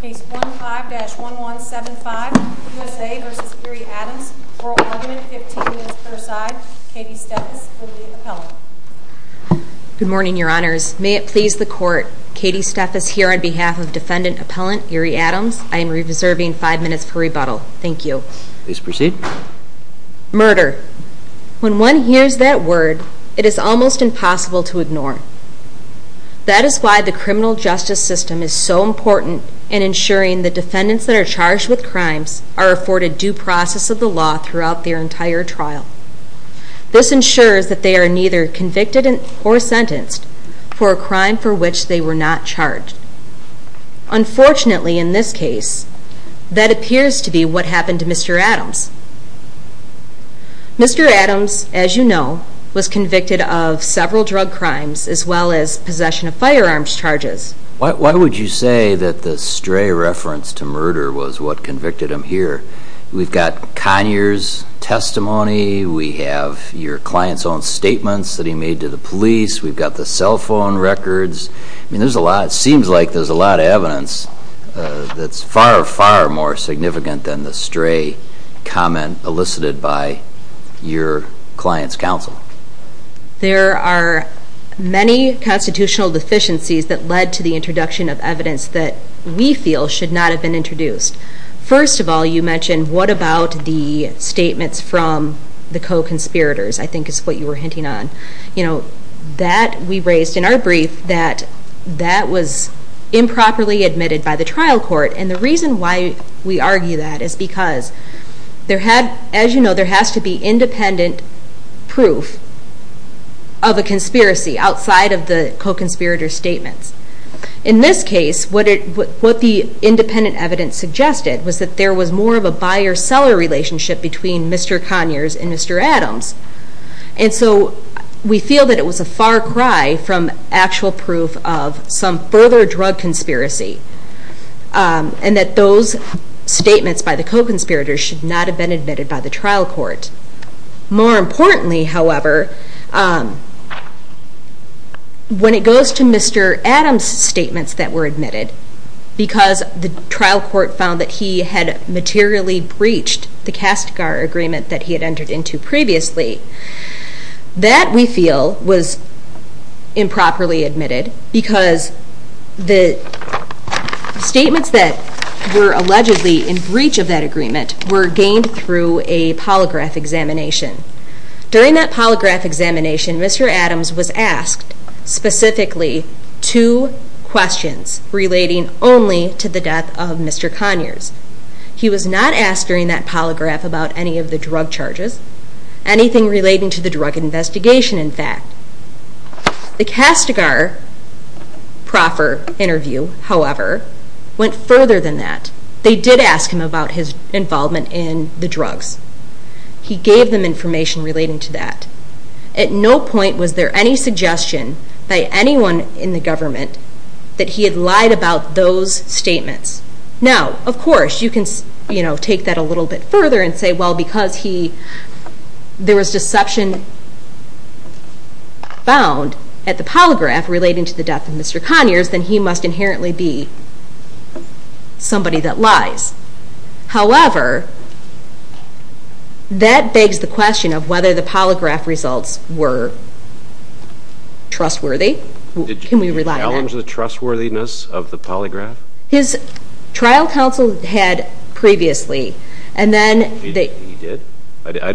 Case 15-1175, USA v. Erie Adams, oral argument, 15 minutes per side. Katie Steffes will be the appellant. Good morning, your honors. May it please the court, Katie Steffes here on behalf of defendant appellant Erie Adams. I am reserving 5 minutes per rebuttal. Thank you. Please proceed. Murder. When one hears that word, it is almost impossible to ignore. That is why the criminal justice system is so important in ensuring the defendants that are charged with crimes are afforded due process of the law throughout their entire trial. This ensures that they are neither convicted or sentenced for a crime for which they were not charged. Unfortunately, in this case, that appears to be what happened to Mr. Adams. Mr. Adams, as you know, was convicted of several drug crimes as well as possession of firearms charges. Why would you say that the stray reference to murder was what convicted him here? We've got Conyers' testimony, we have your client's own statements that he made to the police, we've got the cell phone records. It seems like there's a lot of evidence that's far, far more significant than the stray comment elicited by your client's counsel. There are many constitutional deficiencies that led to the introduction of evidence that we feel should not have been introduced. First of all, you mentioned what about the statements from the co-conspirators, I think is what you were hinting on. You know, that we raised in our brief that that was improperly admitted by the trial court. And the reason why we argue that is because, as you know, there has to be independent proof of a conspiracy outside of the co-conspirator statements. In this case, what the independent evidence suggested was that there was more of a buyer-seller relationship between Mr. Conyers and Mr. Adams. And so we feel that it was a far cry from actual proof of some further drug conspiracy. And that those statements by the co-conspirators should not have been admitted by the trial court. More importantly, however, when it goes to Mr. Adams' statements that were admitted, because the trial court found that he had materially breached the Kastgar Agreement that he had entered into previously, that, we feel, was improperly admitted because the statements that were allegedly in breach of that agreement were gained through a polygraph examination. During that polygraph examination, Mr. Adams was asked specifically two questions relating only to the death of Mr. Conyers. He was not asked during that polygraph about any of the drug charges, anything relating to the drug investigation, in fact. The Kastgar proffer interview, however, went further than that. They did ask him about his involvement in the drugs. He gave them information relating to that. At no point was there any suggestion by anyone in the government that he had lied about those statements. Now, of course, you can take that a little bit further and say, well, because there was deception found at the polygraph relating to the death of Mr. Conyers, then he must inherently be somebody that lies. However, that begs the question of whether the polygraph results were trustworthy. Can we rely on that? Did you challenge the trustworthiness of the polygraph? His trial counsel had previously, and then... He did?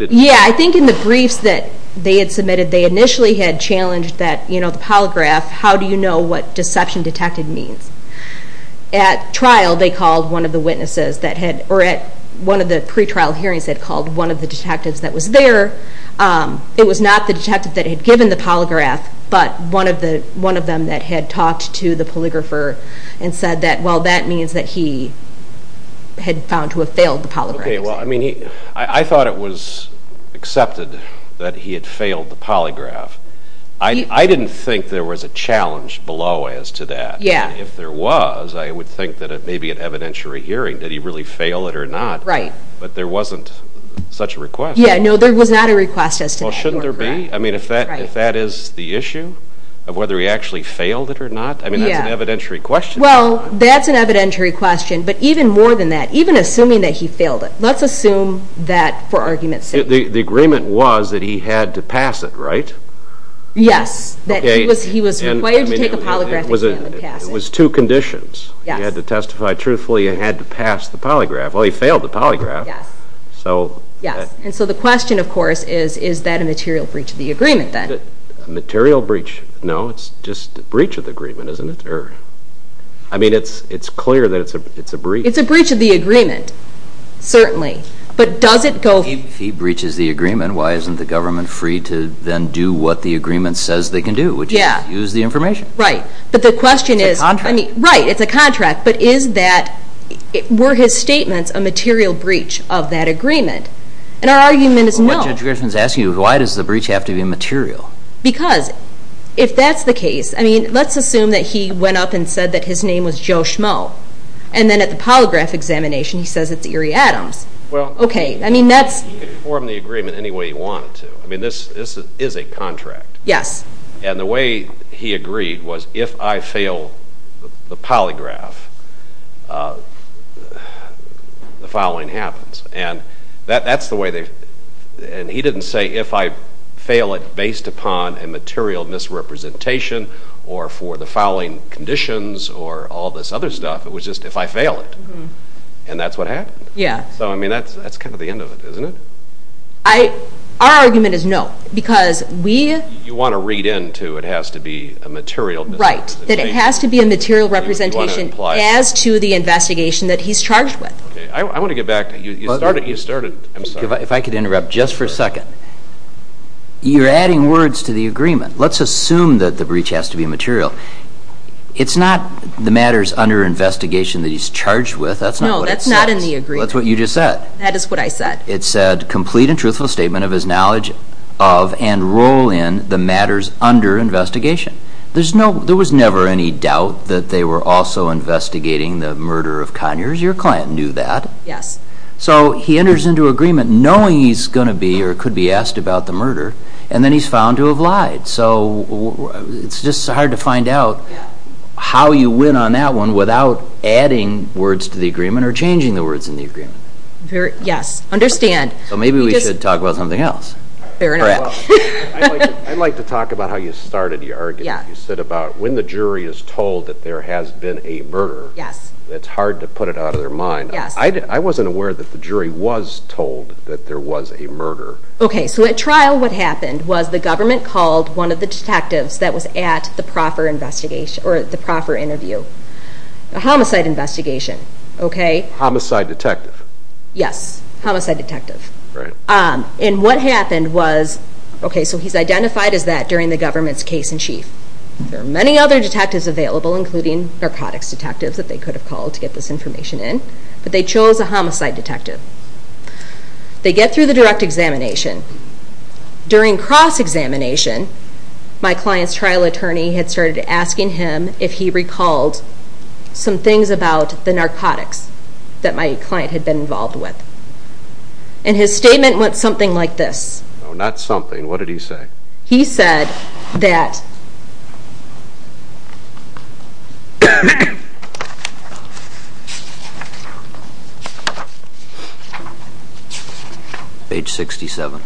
Yeah, I think in the briefs that they had submitted, they initially had challenged that, you know, the polygraph, how do you know what deception detected means? At trial, they called one of the witnesses that had... Or at one of the pretrial hearings, they had called one of the detectives that was there. It was not the detective that had given the polygraph, but one of them that had talked to the polygrapher and said that, well, that means that he had found to have failed the polygraph. Okay, well, I mean, I thought it was accepted that he had failed the polygraph. I didn't think there was a challenge below as to that. Yeah. If there was, I would think that it may be an evidentiary hearing. Did he really fail it or not? Right. But there wasn't such a request. Yeah, no, there was not a request as to that. Well, should there be? I mean, if that is the issue of whether he actually failed it or not, I mean, that's an evidentiary question. Well, that's an evidentiary question. The agreement was that he had to pass it, right? Yes, that he was required to take a polygraph exam and pass it. It was two conditions. Yes. He had to testify truthfully and had to pass the polygraph. Well, he failed the polygraph. Yes. So... Yes, and so the question, of course, is, is that a material breach of the agreement then? A material breach? No, it's just a breach of the agreement, isn't it? I mean, it's clear that it's a breach. It's a breach of the agreement, certainly. But does it go... If he breaches the agreement, why isn't the government free to then do what the agreement says they can do, which is use the information? Right. But the question is... It's a contract. Right, it's a contract. But is that, were his statements a material breach of that agreement? And our argument is no. What Judge Gershman is asking is why does the breach have to be material? Because if that's the case, I mean, let's assume that he went up and said that his name was Joe Schmo, and then at the polygraph examination he says it's Erie Adams. Well... Okay, I mean, that's... He could form the agreement any way he wanted to. I mean, this is a contract. Yes. And the way he agreed was if I fail the polygraph, the fouling happens. And that's the way they, and he didn't say if I fail it based upon a material misrepresentation or for the fouling conditions or all this other stuff. It was just if I fail it. And that's what happened. Yeah. So, I mean, that's kind of the end of it, isn't it? Our argument is no, because we... You want to read into it has to be a material misrepresentation. Right, that it has to be a material representation as to the investigation that he's charged with. Okay, I want to get back to, you started, I'm sorry. If I could interrupt just for a second. You're adding words to the agreement. Let's assume that the breach has to be material. It's not the matters under investigation that he's charged with. No, that's not in the agreement. That's what you just said. That is what I said. It said complete and truthful statement of his knowledge of and role in the matters under investigation. There was never any doubt that they were also investigating the murder of Conyers. Your client knew that. Yes. So he enters into agreement knowing he's going to be or could be asked about the murder, and then he's found to have lied. It's just hard to find out how you win on that one without adding words to the agreement or changing the words in the agreement. Yes, understand. Maybe we should talk about something else. Fair enough. I'd like to talk about how you started your argument. You said about when the jury is told that there has been a murder, it's hard to put it out of their mind. I wasn't aware that the jury was told that there was a murder. Okay, so at trial what happened was the government called one of the detectives that was at the proffer interview, a homicide investigation. Homicide detective. Yes, homicide detective. And what happened was, okay, so he's identified as that during the government's case in chief. There are many other detectives available, including narcotics detectives that they could have called to get this information in, but they chose a homicide detective. They get through the direct examination. During cross-examination, my client's trial attorney had started asking him if he recalled some things about the narcotics that my client had been involved with. And his statement went something like this. No, not something. What did he say? He said that... Page 67.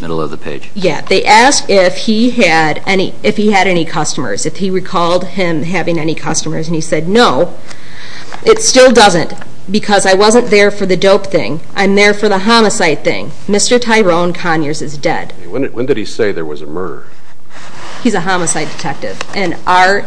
Middle of the page. Yeah, they asked if he had any customers, if he recalled him having any customers. And he said, no, it still doesn't because I wasn't there for the dope thing. I'm there for the homicide thing. Mr. Tyrone Conyers is dead. When did he say there was a murder? He's a homicide detective. And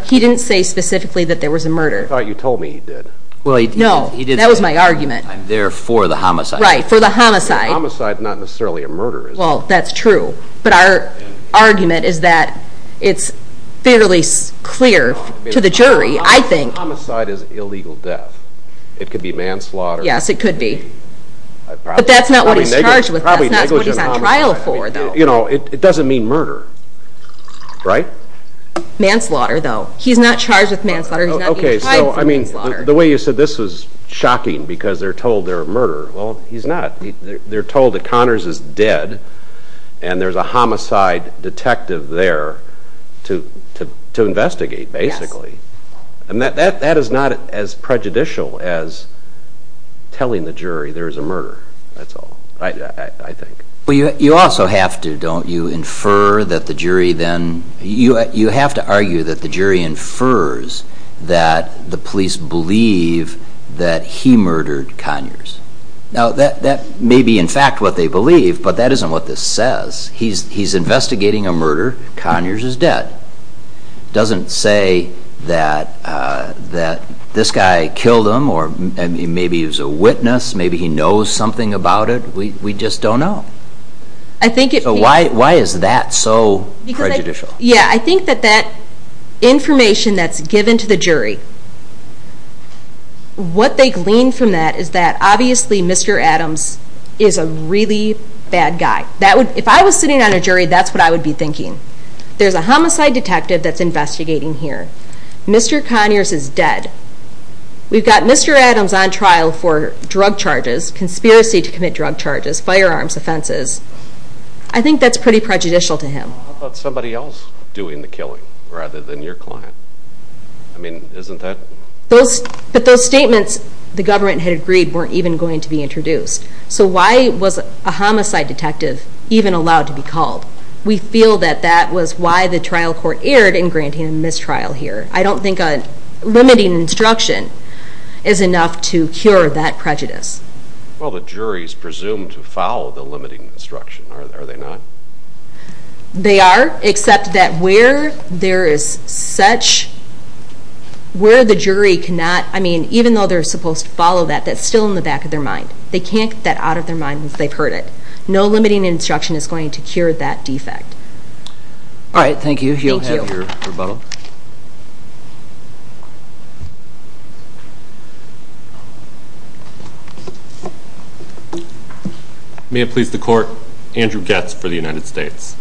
he didn't say specifically that there was a murder. I thought you told me he did. No, that was my argument. I'm there for the homicide. Right, for the homicide. Homicide is not necessarily a murder, is it? Well, that's true. But our argument is that it's fairly clear to the jury. Homicide is illegal death. It could be manslaughter. Yes, it could be. But that's not what he's charged with. That's not what he's on trial for, though. You know, it doesn't mean murder, right? Manslaughter, though. He's not charged with manslaughter. He's not even tried for manslaughter. Okay, so, I mean, the way you said this was shocking because they're told there were murders. Well, he's not. They're told that Conyers is dead. And there's a homicide detective there to investigate, basically. And that is not as prejudicial as telling the jury there is a murder. That's all, I think. Well, you also have to, don't you, infer that the jury then You have to argue that the jury infers that the police believe that he murdered Conyers. Now, that may be in fact what they believe, but that isn't what this says. He's investigating a murder. Conyers is dead. It doesn't say that this guy killed him or maybe he was a witness, maybe he knows something about it. We just don't know. So why is that so prejudicial? Yeah, I think that that information that's given to the jury, what they glean from that is that obviously Mr. Adams is a really bad guy. If I was sitting on a jury, that's what I would be thinking. There's a homicide detective that's investigating here. Mr. Conyers is dead. We've got Mr. Adams on trial for drug charges, conspiracy to commit drug charges, firearms offenses. I think that's pretty prejudicial to him. How about somebody else doing the killing rather than your client? I mean, isn't that? But those statements the government had agreed weren't even going to be introduced. So why was a homicide detective even allowed to be called? We feel that that was why the trial court erred in granting a mistrial here. I don't think a limiting instruction is enough to cure that prejudice. Well, the jury is presumed to follow the limiting instruction, are they not? They are, except that where there is such, where the jury cannot, I mean, even though they're supposed to follow that, that's still in the back of their mind. They can't get that out of their mind if they've heard it. No limiting instruction is going to cure that defect. All right, thank you. You'll have your rebuttal. May it please the Court, Andrew Goetz for the United States.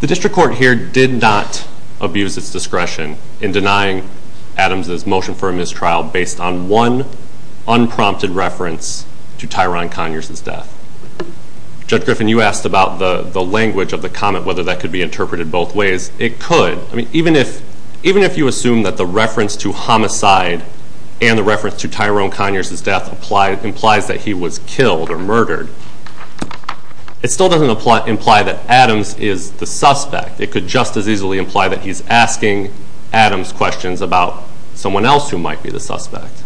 The district court here did not abuse its discretion in denying Adams' motion for a mistrial based on one unprompted reference to Tyrone Conyers' death. Judge Griffin, you asked about the language of the comment, whether that could be interpreted both ways. It could. I mean, even if you assume that the reference to homicide and the reference to Tyrone Conyers' death implies that he was killed or murdered, it still doesn't imply that Adams is the suspect. It could just as easily imply that he's asking Adams questions about someone else who might be the suspect.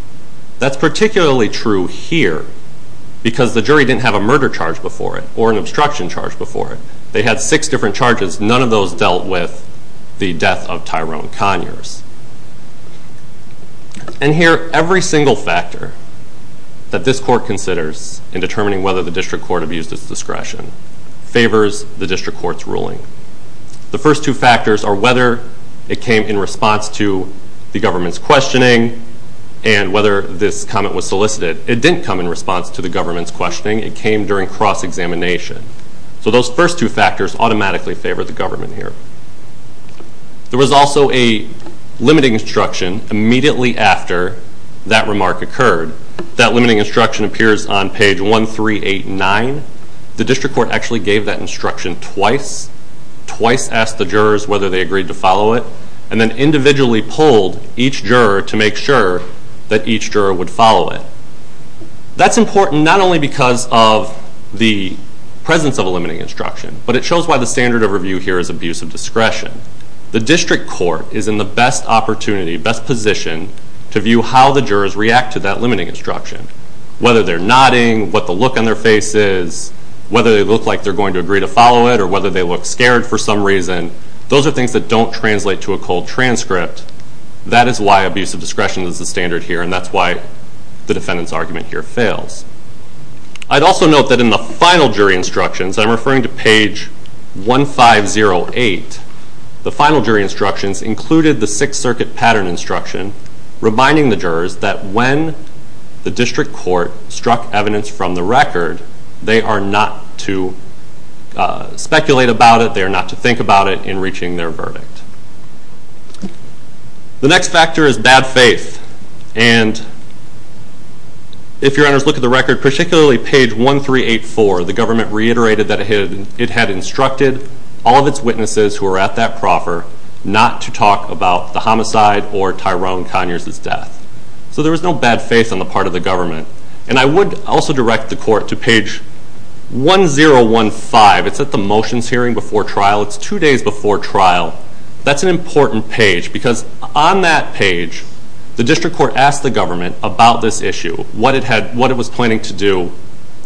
That's particularly true here because the jury didn't have a murder charge before it or an obstruction charge before it. They had six different charges. None of those dealt with the death of Tyrone Conyers. And here, every single factor that this Court considers favors the district court's ruling. The first two factors are whether it came in response to the government's questioning and whether this comment was solicited. It didn't come in response to the government's questioning. It came during cross-examination. So those first two factors automatically favor the government here. There was also a limiting instruction immediately after that remark occurred. That limiting instruction appears on page 1389. The district court actually gave that instruction twice, twice asked the jurors whether they agreed to follow it, and then individually polled each juror to make sure that each juror would follow it. That's important not only because of the presence of a limiting instruction, but it shows why the standard of review here is abuse of discretion. The district court is in the best opportunity, best position, to view how the jurors react to that limiting instruction, whether they're nodding, what the look on their face is, whether they look like they're going to agree to follow it, or whether they look scared for some reason. Those are things that don't translate to a cold transcript. That is why abuse of discretion is the standard here, and that's why the defendant's argument here fails. I'd also note that in the final jury instructions, I'm referring to page 1508, the final jury instructions included the Sixth Circuit pattern instruction reminding the jurors that when the district court struck evidence from the record, they are not to speculate about it, they are not to think about it in reaching their verdict. The next factor is bad faith. If your honors look at the record, particularly page 1384, the government reiterated that it had instructed all of its witnesses who were at that proffer not to talk about the homicide or Tyrone Conyers' death. So there was no bad faith on the part of the government. And I would also direct the court to page 1015. It's at the motions hearing before trial. It's two days before trial. That's an important page because on that page, the district court asked the government about this issue, what it was planning to do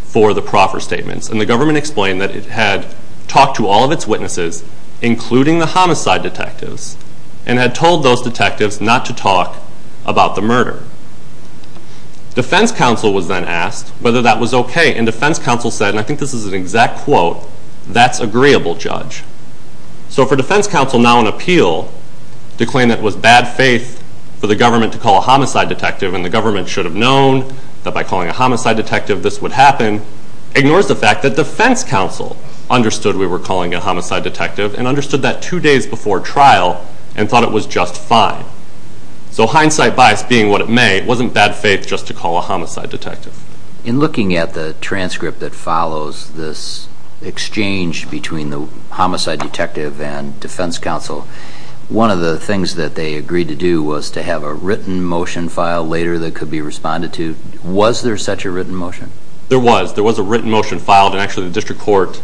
for the proffer statements, and the government explained that it had talked to all of its witnesses, including the homicide detectives, and had told those detectives not to talk about the murder. Defense counsel was then asked whether that was okay, and defense counsel said, and I think this is an exact quote, that's agreeable, Judge. So for defense counsel now on appeal to claim that it was bad faith for the government to call a homicide detective and the government should have known that by calling a homicide detective this would happen, ignores the fact that defense counsel understood we were calling a homicide detective and understood that two days before trial and thought it was just fine. So hindsight bias being what it may, it wasn't bad faith just to call a homicide detective. In looking at the transcript that follows this exchange between the homicide detective and defense counsel, one of the things that they agreed to do was to have a written motion filed later that could be responded to. Was there such a written motion? There was. There was a written motion filed, and actually the district court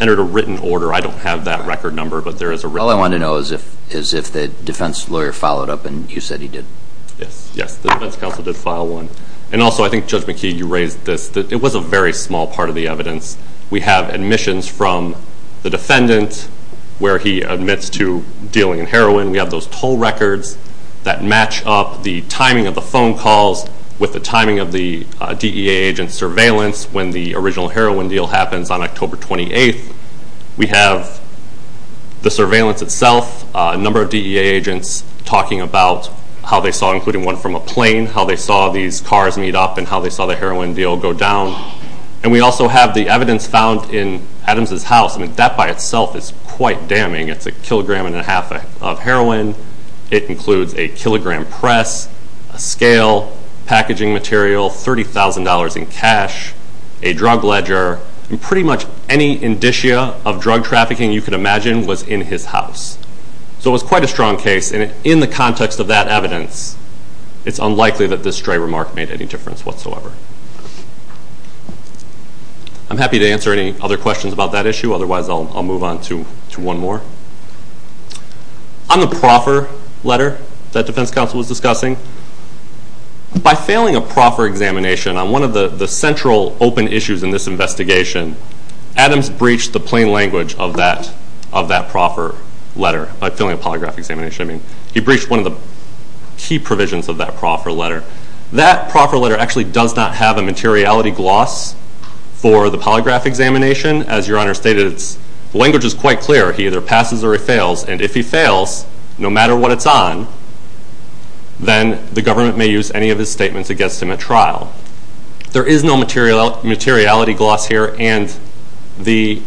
entered a written order. I don't have that record number, but there is a written order. All I want to know is if the defense lawyer followed up and you said he did. Yes. Yes, the defense counsel did file one. And also I think, Judge McKee, you raised this. It was a very small part of the evidence. We have admissions from the defendant where he admits to dealing in heroin. We have those toll records that match up the timing of the phone calls with the timing of the DEA agent's surveillance when the original heroin deal happens on October 28th. We have the surveillance itself, a number of DEA agents talking about how they saw, including one from a plane, how they saw these cars meet up and how they saw the heroin deal go down. And we also have the evidence found in Adams' house. That by itself is quite damning. It's a kilogram and a half of heroin. It includes a kilogram press, a scale, packaging material, $30,000 in cash, a drug ledger, and pretty much any indicia of drug trafficking you could imagine was in his house. So it was quite a strong case. And in the context of that evidence, it's unlikely that this stray remark made any difference whatsoever. I'm happy to answer any other questions about that issue. Otherwise, I'll move on to one more. On the proffer letter that defense counsel was discussing, by failing a proffer examination, on one of the central open issues in this investigation, Adams breached the plain language of that proffer letter by failing a polygraph examination. He breached one of the key provisions of that proffer letter. That proffer letter actually does not have a materiality gloss for the polygraph examination. As Your Honor stated, the language is quite clear. He either passes or he fails. And if he fails, no matter what it's on, then the government may use any of his statements against him at trial. There is no materiality gloss here, and this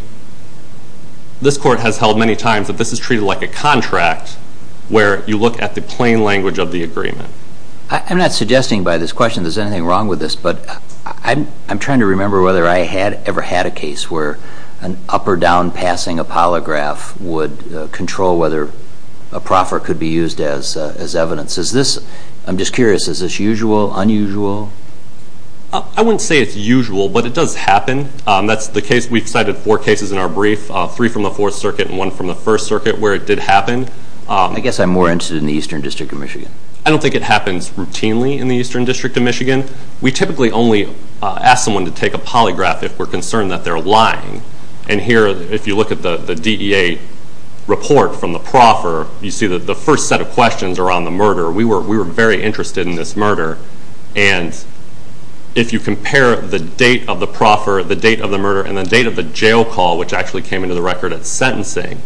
court has held many times that this is treated like a contract where you look at the plain language of the agreement. I'm not suggesting by this question there's anything wrong with this, but I'm trying to remember whether I had ever had a case where an up or down passing a polygraph would control whether a proffer could be used as evidence. I'm just curious, is this usual, unusual? I wouldn't say it's usual, but it does happen. We've cited four cases in our brief, three from the Fourth Circuit and one from the First Circuit, where it did happen. I guess I'm more interested in the Eastern District of Michigan. I don't think it happens routinely in the Eastern District of Michigan. We typically only ask someone to take a polygraph if we're concerned that they're lying. And here, if you look at the DEA report from the proffer, you see that the first set of questions are on the murder. We were very interested in this murder. And if you compare the date of the proffer, the date of the murder, and the date of the jail call, which actually came into the record at sentencing,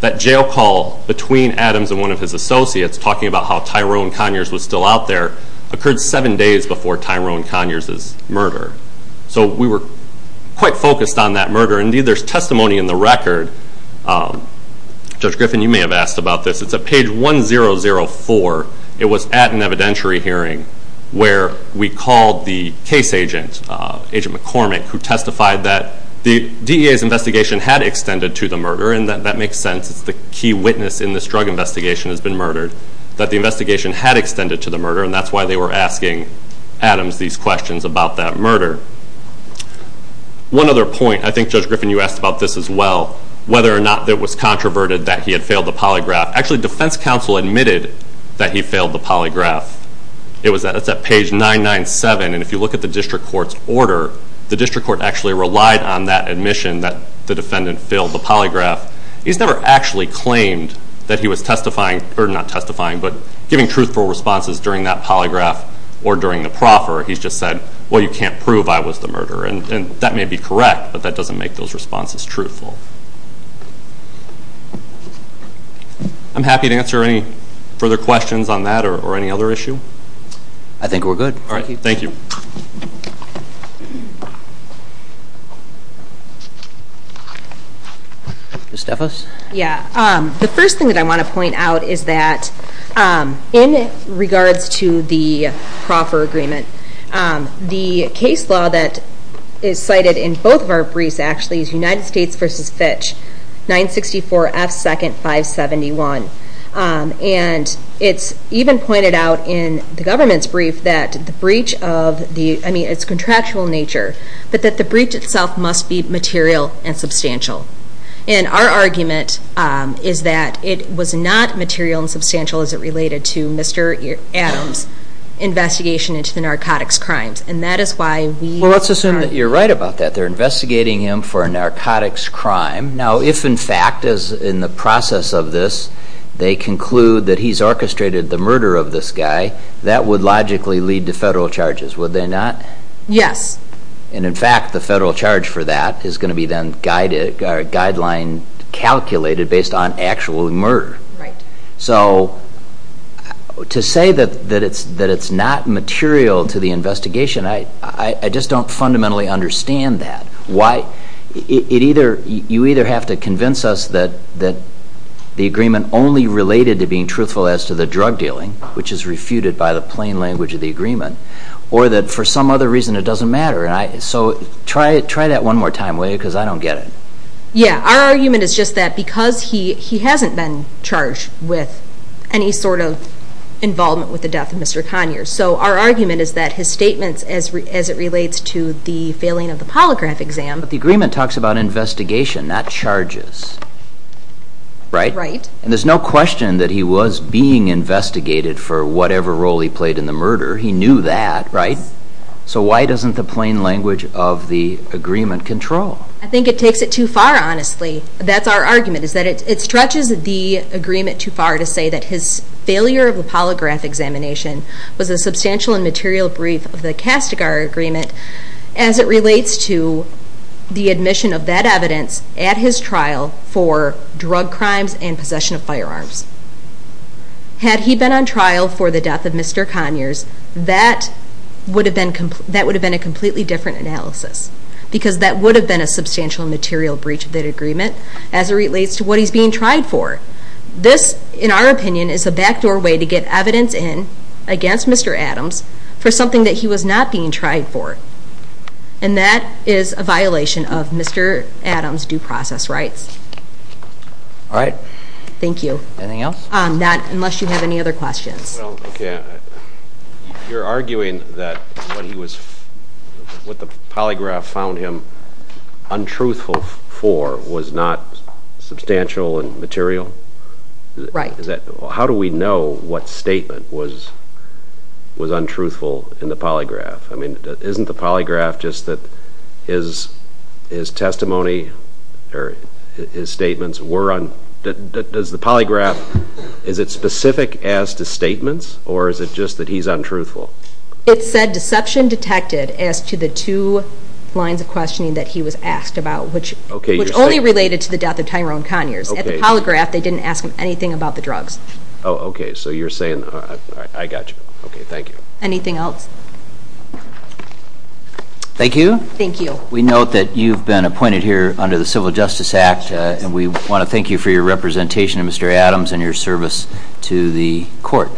that jail call between Adams and one of his associates talking about how Tyrone Conyers was still out there occurred seven days before Tyrone Conyers' murder. So we were quite focused on that murder. Indeed, there's testimony in the record. Judge Griffin, you may have asked about this. It's at page 1004. It was at an evidentiary hearing where we called the case agent, Agent McCormick, who testified that the DEA's investigation had extended to the murder, and that makes sense. It's the key witness in this drug investigation has been murdered, that the investigation had extended to the murder, and that's why they were asking Adams these questions about that murder. One other point, I think Judge Griffin, you asked about this as well, whether or not it was controverted that he had failed the polygraph. Actually, defense counsel admitted that he failed the polygraph. It's at page 997, and if you look at the district court's order, the district court actually relied on that admission that the defendant failed the polygraph. He's never actually claimed that he was testifying, or not testifying, but giving truthful responses during that polygraph or during the proffer. He's just said, well, you can't prove I was the murderer, and that may be correct, but that doesn't make those responses truthful. I'm happy to answer any further questions on that or any other issue. I think we're good. All right. Thank you. Ms. DeVos? Yeah. The first thing that I want to point out is that, in regards to the proffer agreement, the case law that is cited in both of our briefs, actually, is United States v. Fitch, 964 F. 2nd. 571. And it's even pointed out in the government's brief that the breach of the, I mean, it's contractual in nature, but that the breach itself must be material and substantial. And our argument is that it was not material and substantial as it related to Mr. Adams' investigation into the narcotics crimes. And that is why we... Well, let's assume that you're right about that. They're investigating him for a narcotics crime. Now, if, in fact, in the process of this, they conclude that he's orchestrated the murder of this guy, that would logically lead to federal charges, would they not? Yes. And, in fact, the federal charge for that is going to be then guideline calculated based on actual murder. Right. So to say that it's not material to the investigation, I just don't fundamentally understand that. You either have to convince us that the agreement only related to being truthful as to the drug dealing, which is refuted by the plain language of the agreement, or that for some other reason it doesn't matter. So try that one more time, will you, because I don't get it. Yeah. Our argument is just that because he hasn't been charged with any sort of involvement with the death of Mr. Conyers, so our argument is that his statements as it relates to the failing of the polygraph exam... But the agreement talks about investigation, not charges. Right? Right. And there's no question that he was being investigated for whatever role he played in the murder. He knew that, right? Yes. So why doesn't the plain language of the agreement control? I think it takes it too far, honestly. That's our argument, is that it stretches the agreement too far to say that his failure of the polygraph examination was a substantial and material brief of the Castigar Agreement as it relates to the admission of that evidence at his trial for drug crimes and possession of firearms. Had he been on trial for the death of Mr. Conyers, that would have been a completely different analysis because that would have been a substantial and material breach of that agreement as it relates to what he's being tried for. This, in our opinion, is a back-door way to get evidence in against Mr. Adams for something that he was not being tried for, and that is a violation of Mr. Adams' due process rights. All right. Thank you. Anything else? Not unless you have any other questions. Okay. You're arguing that what the polygraph found him untruthful for was not substantial and material? Right. How do we know what statement was untruthful in the polygraph? I mean, isn't the polygraph just that his testimony, or his statements, were untruthful? Does the polygraph, is it specific as to statements, or is it just that he's untruthful? It said deception detected as to the two lines of questioning that he was asked about, which only related to the death of Tyrone Conyers. At the polygraph, they didn't ask him anything about the drugs. Oh, okay. So you're saying that. I got you. Okay. Thank you. Anything else? Thank you. Thank you. We note that you've been appointed here under the Civil Justice Act, and we want to thank you for your representation, Mr. Adams, and your service to the court.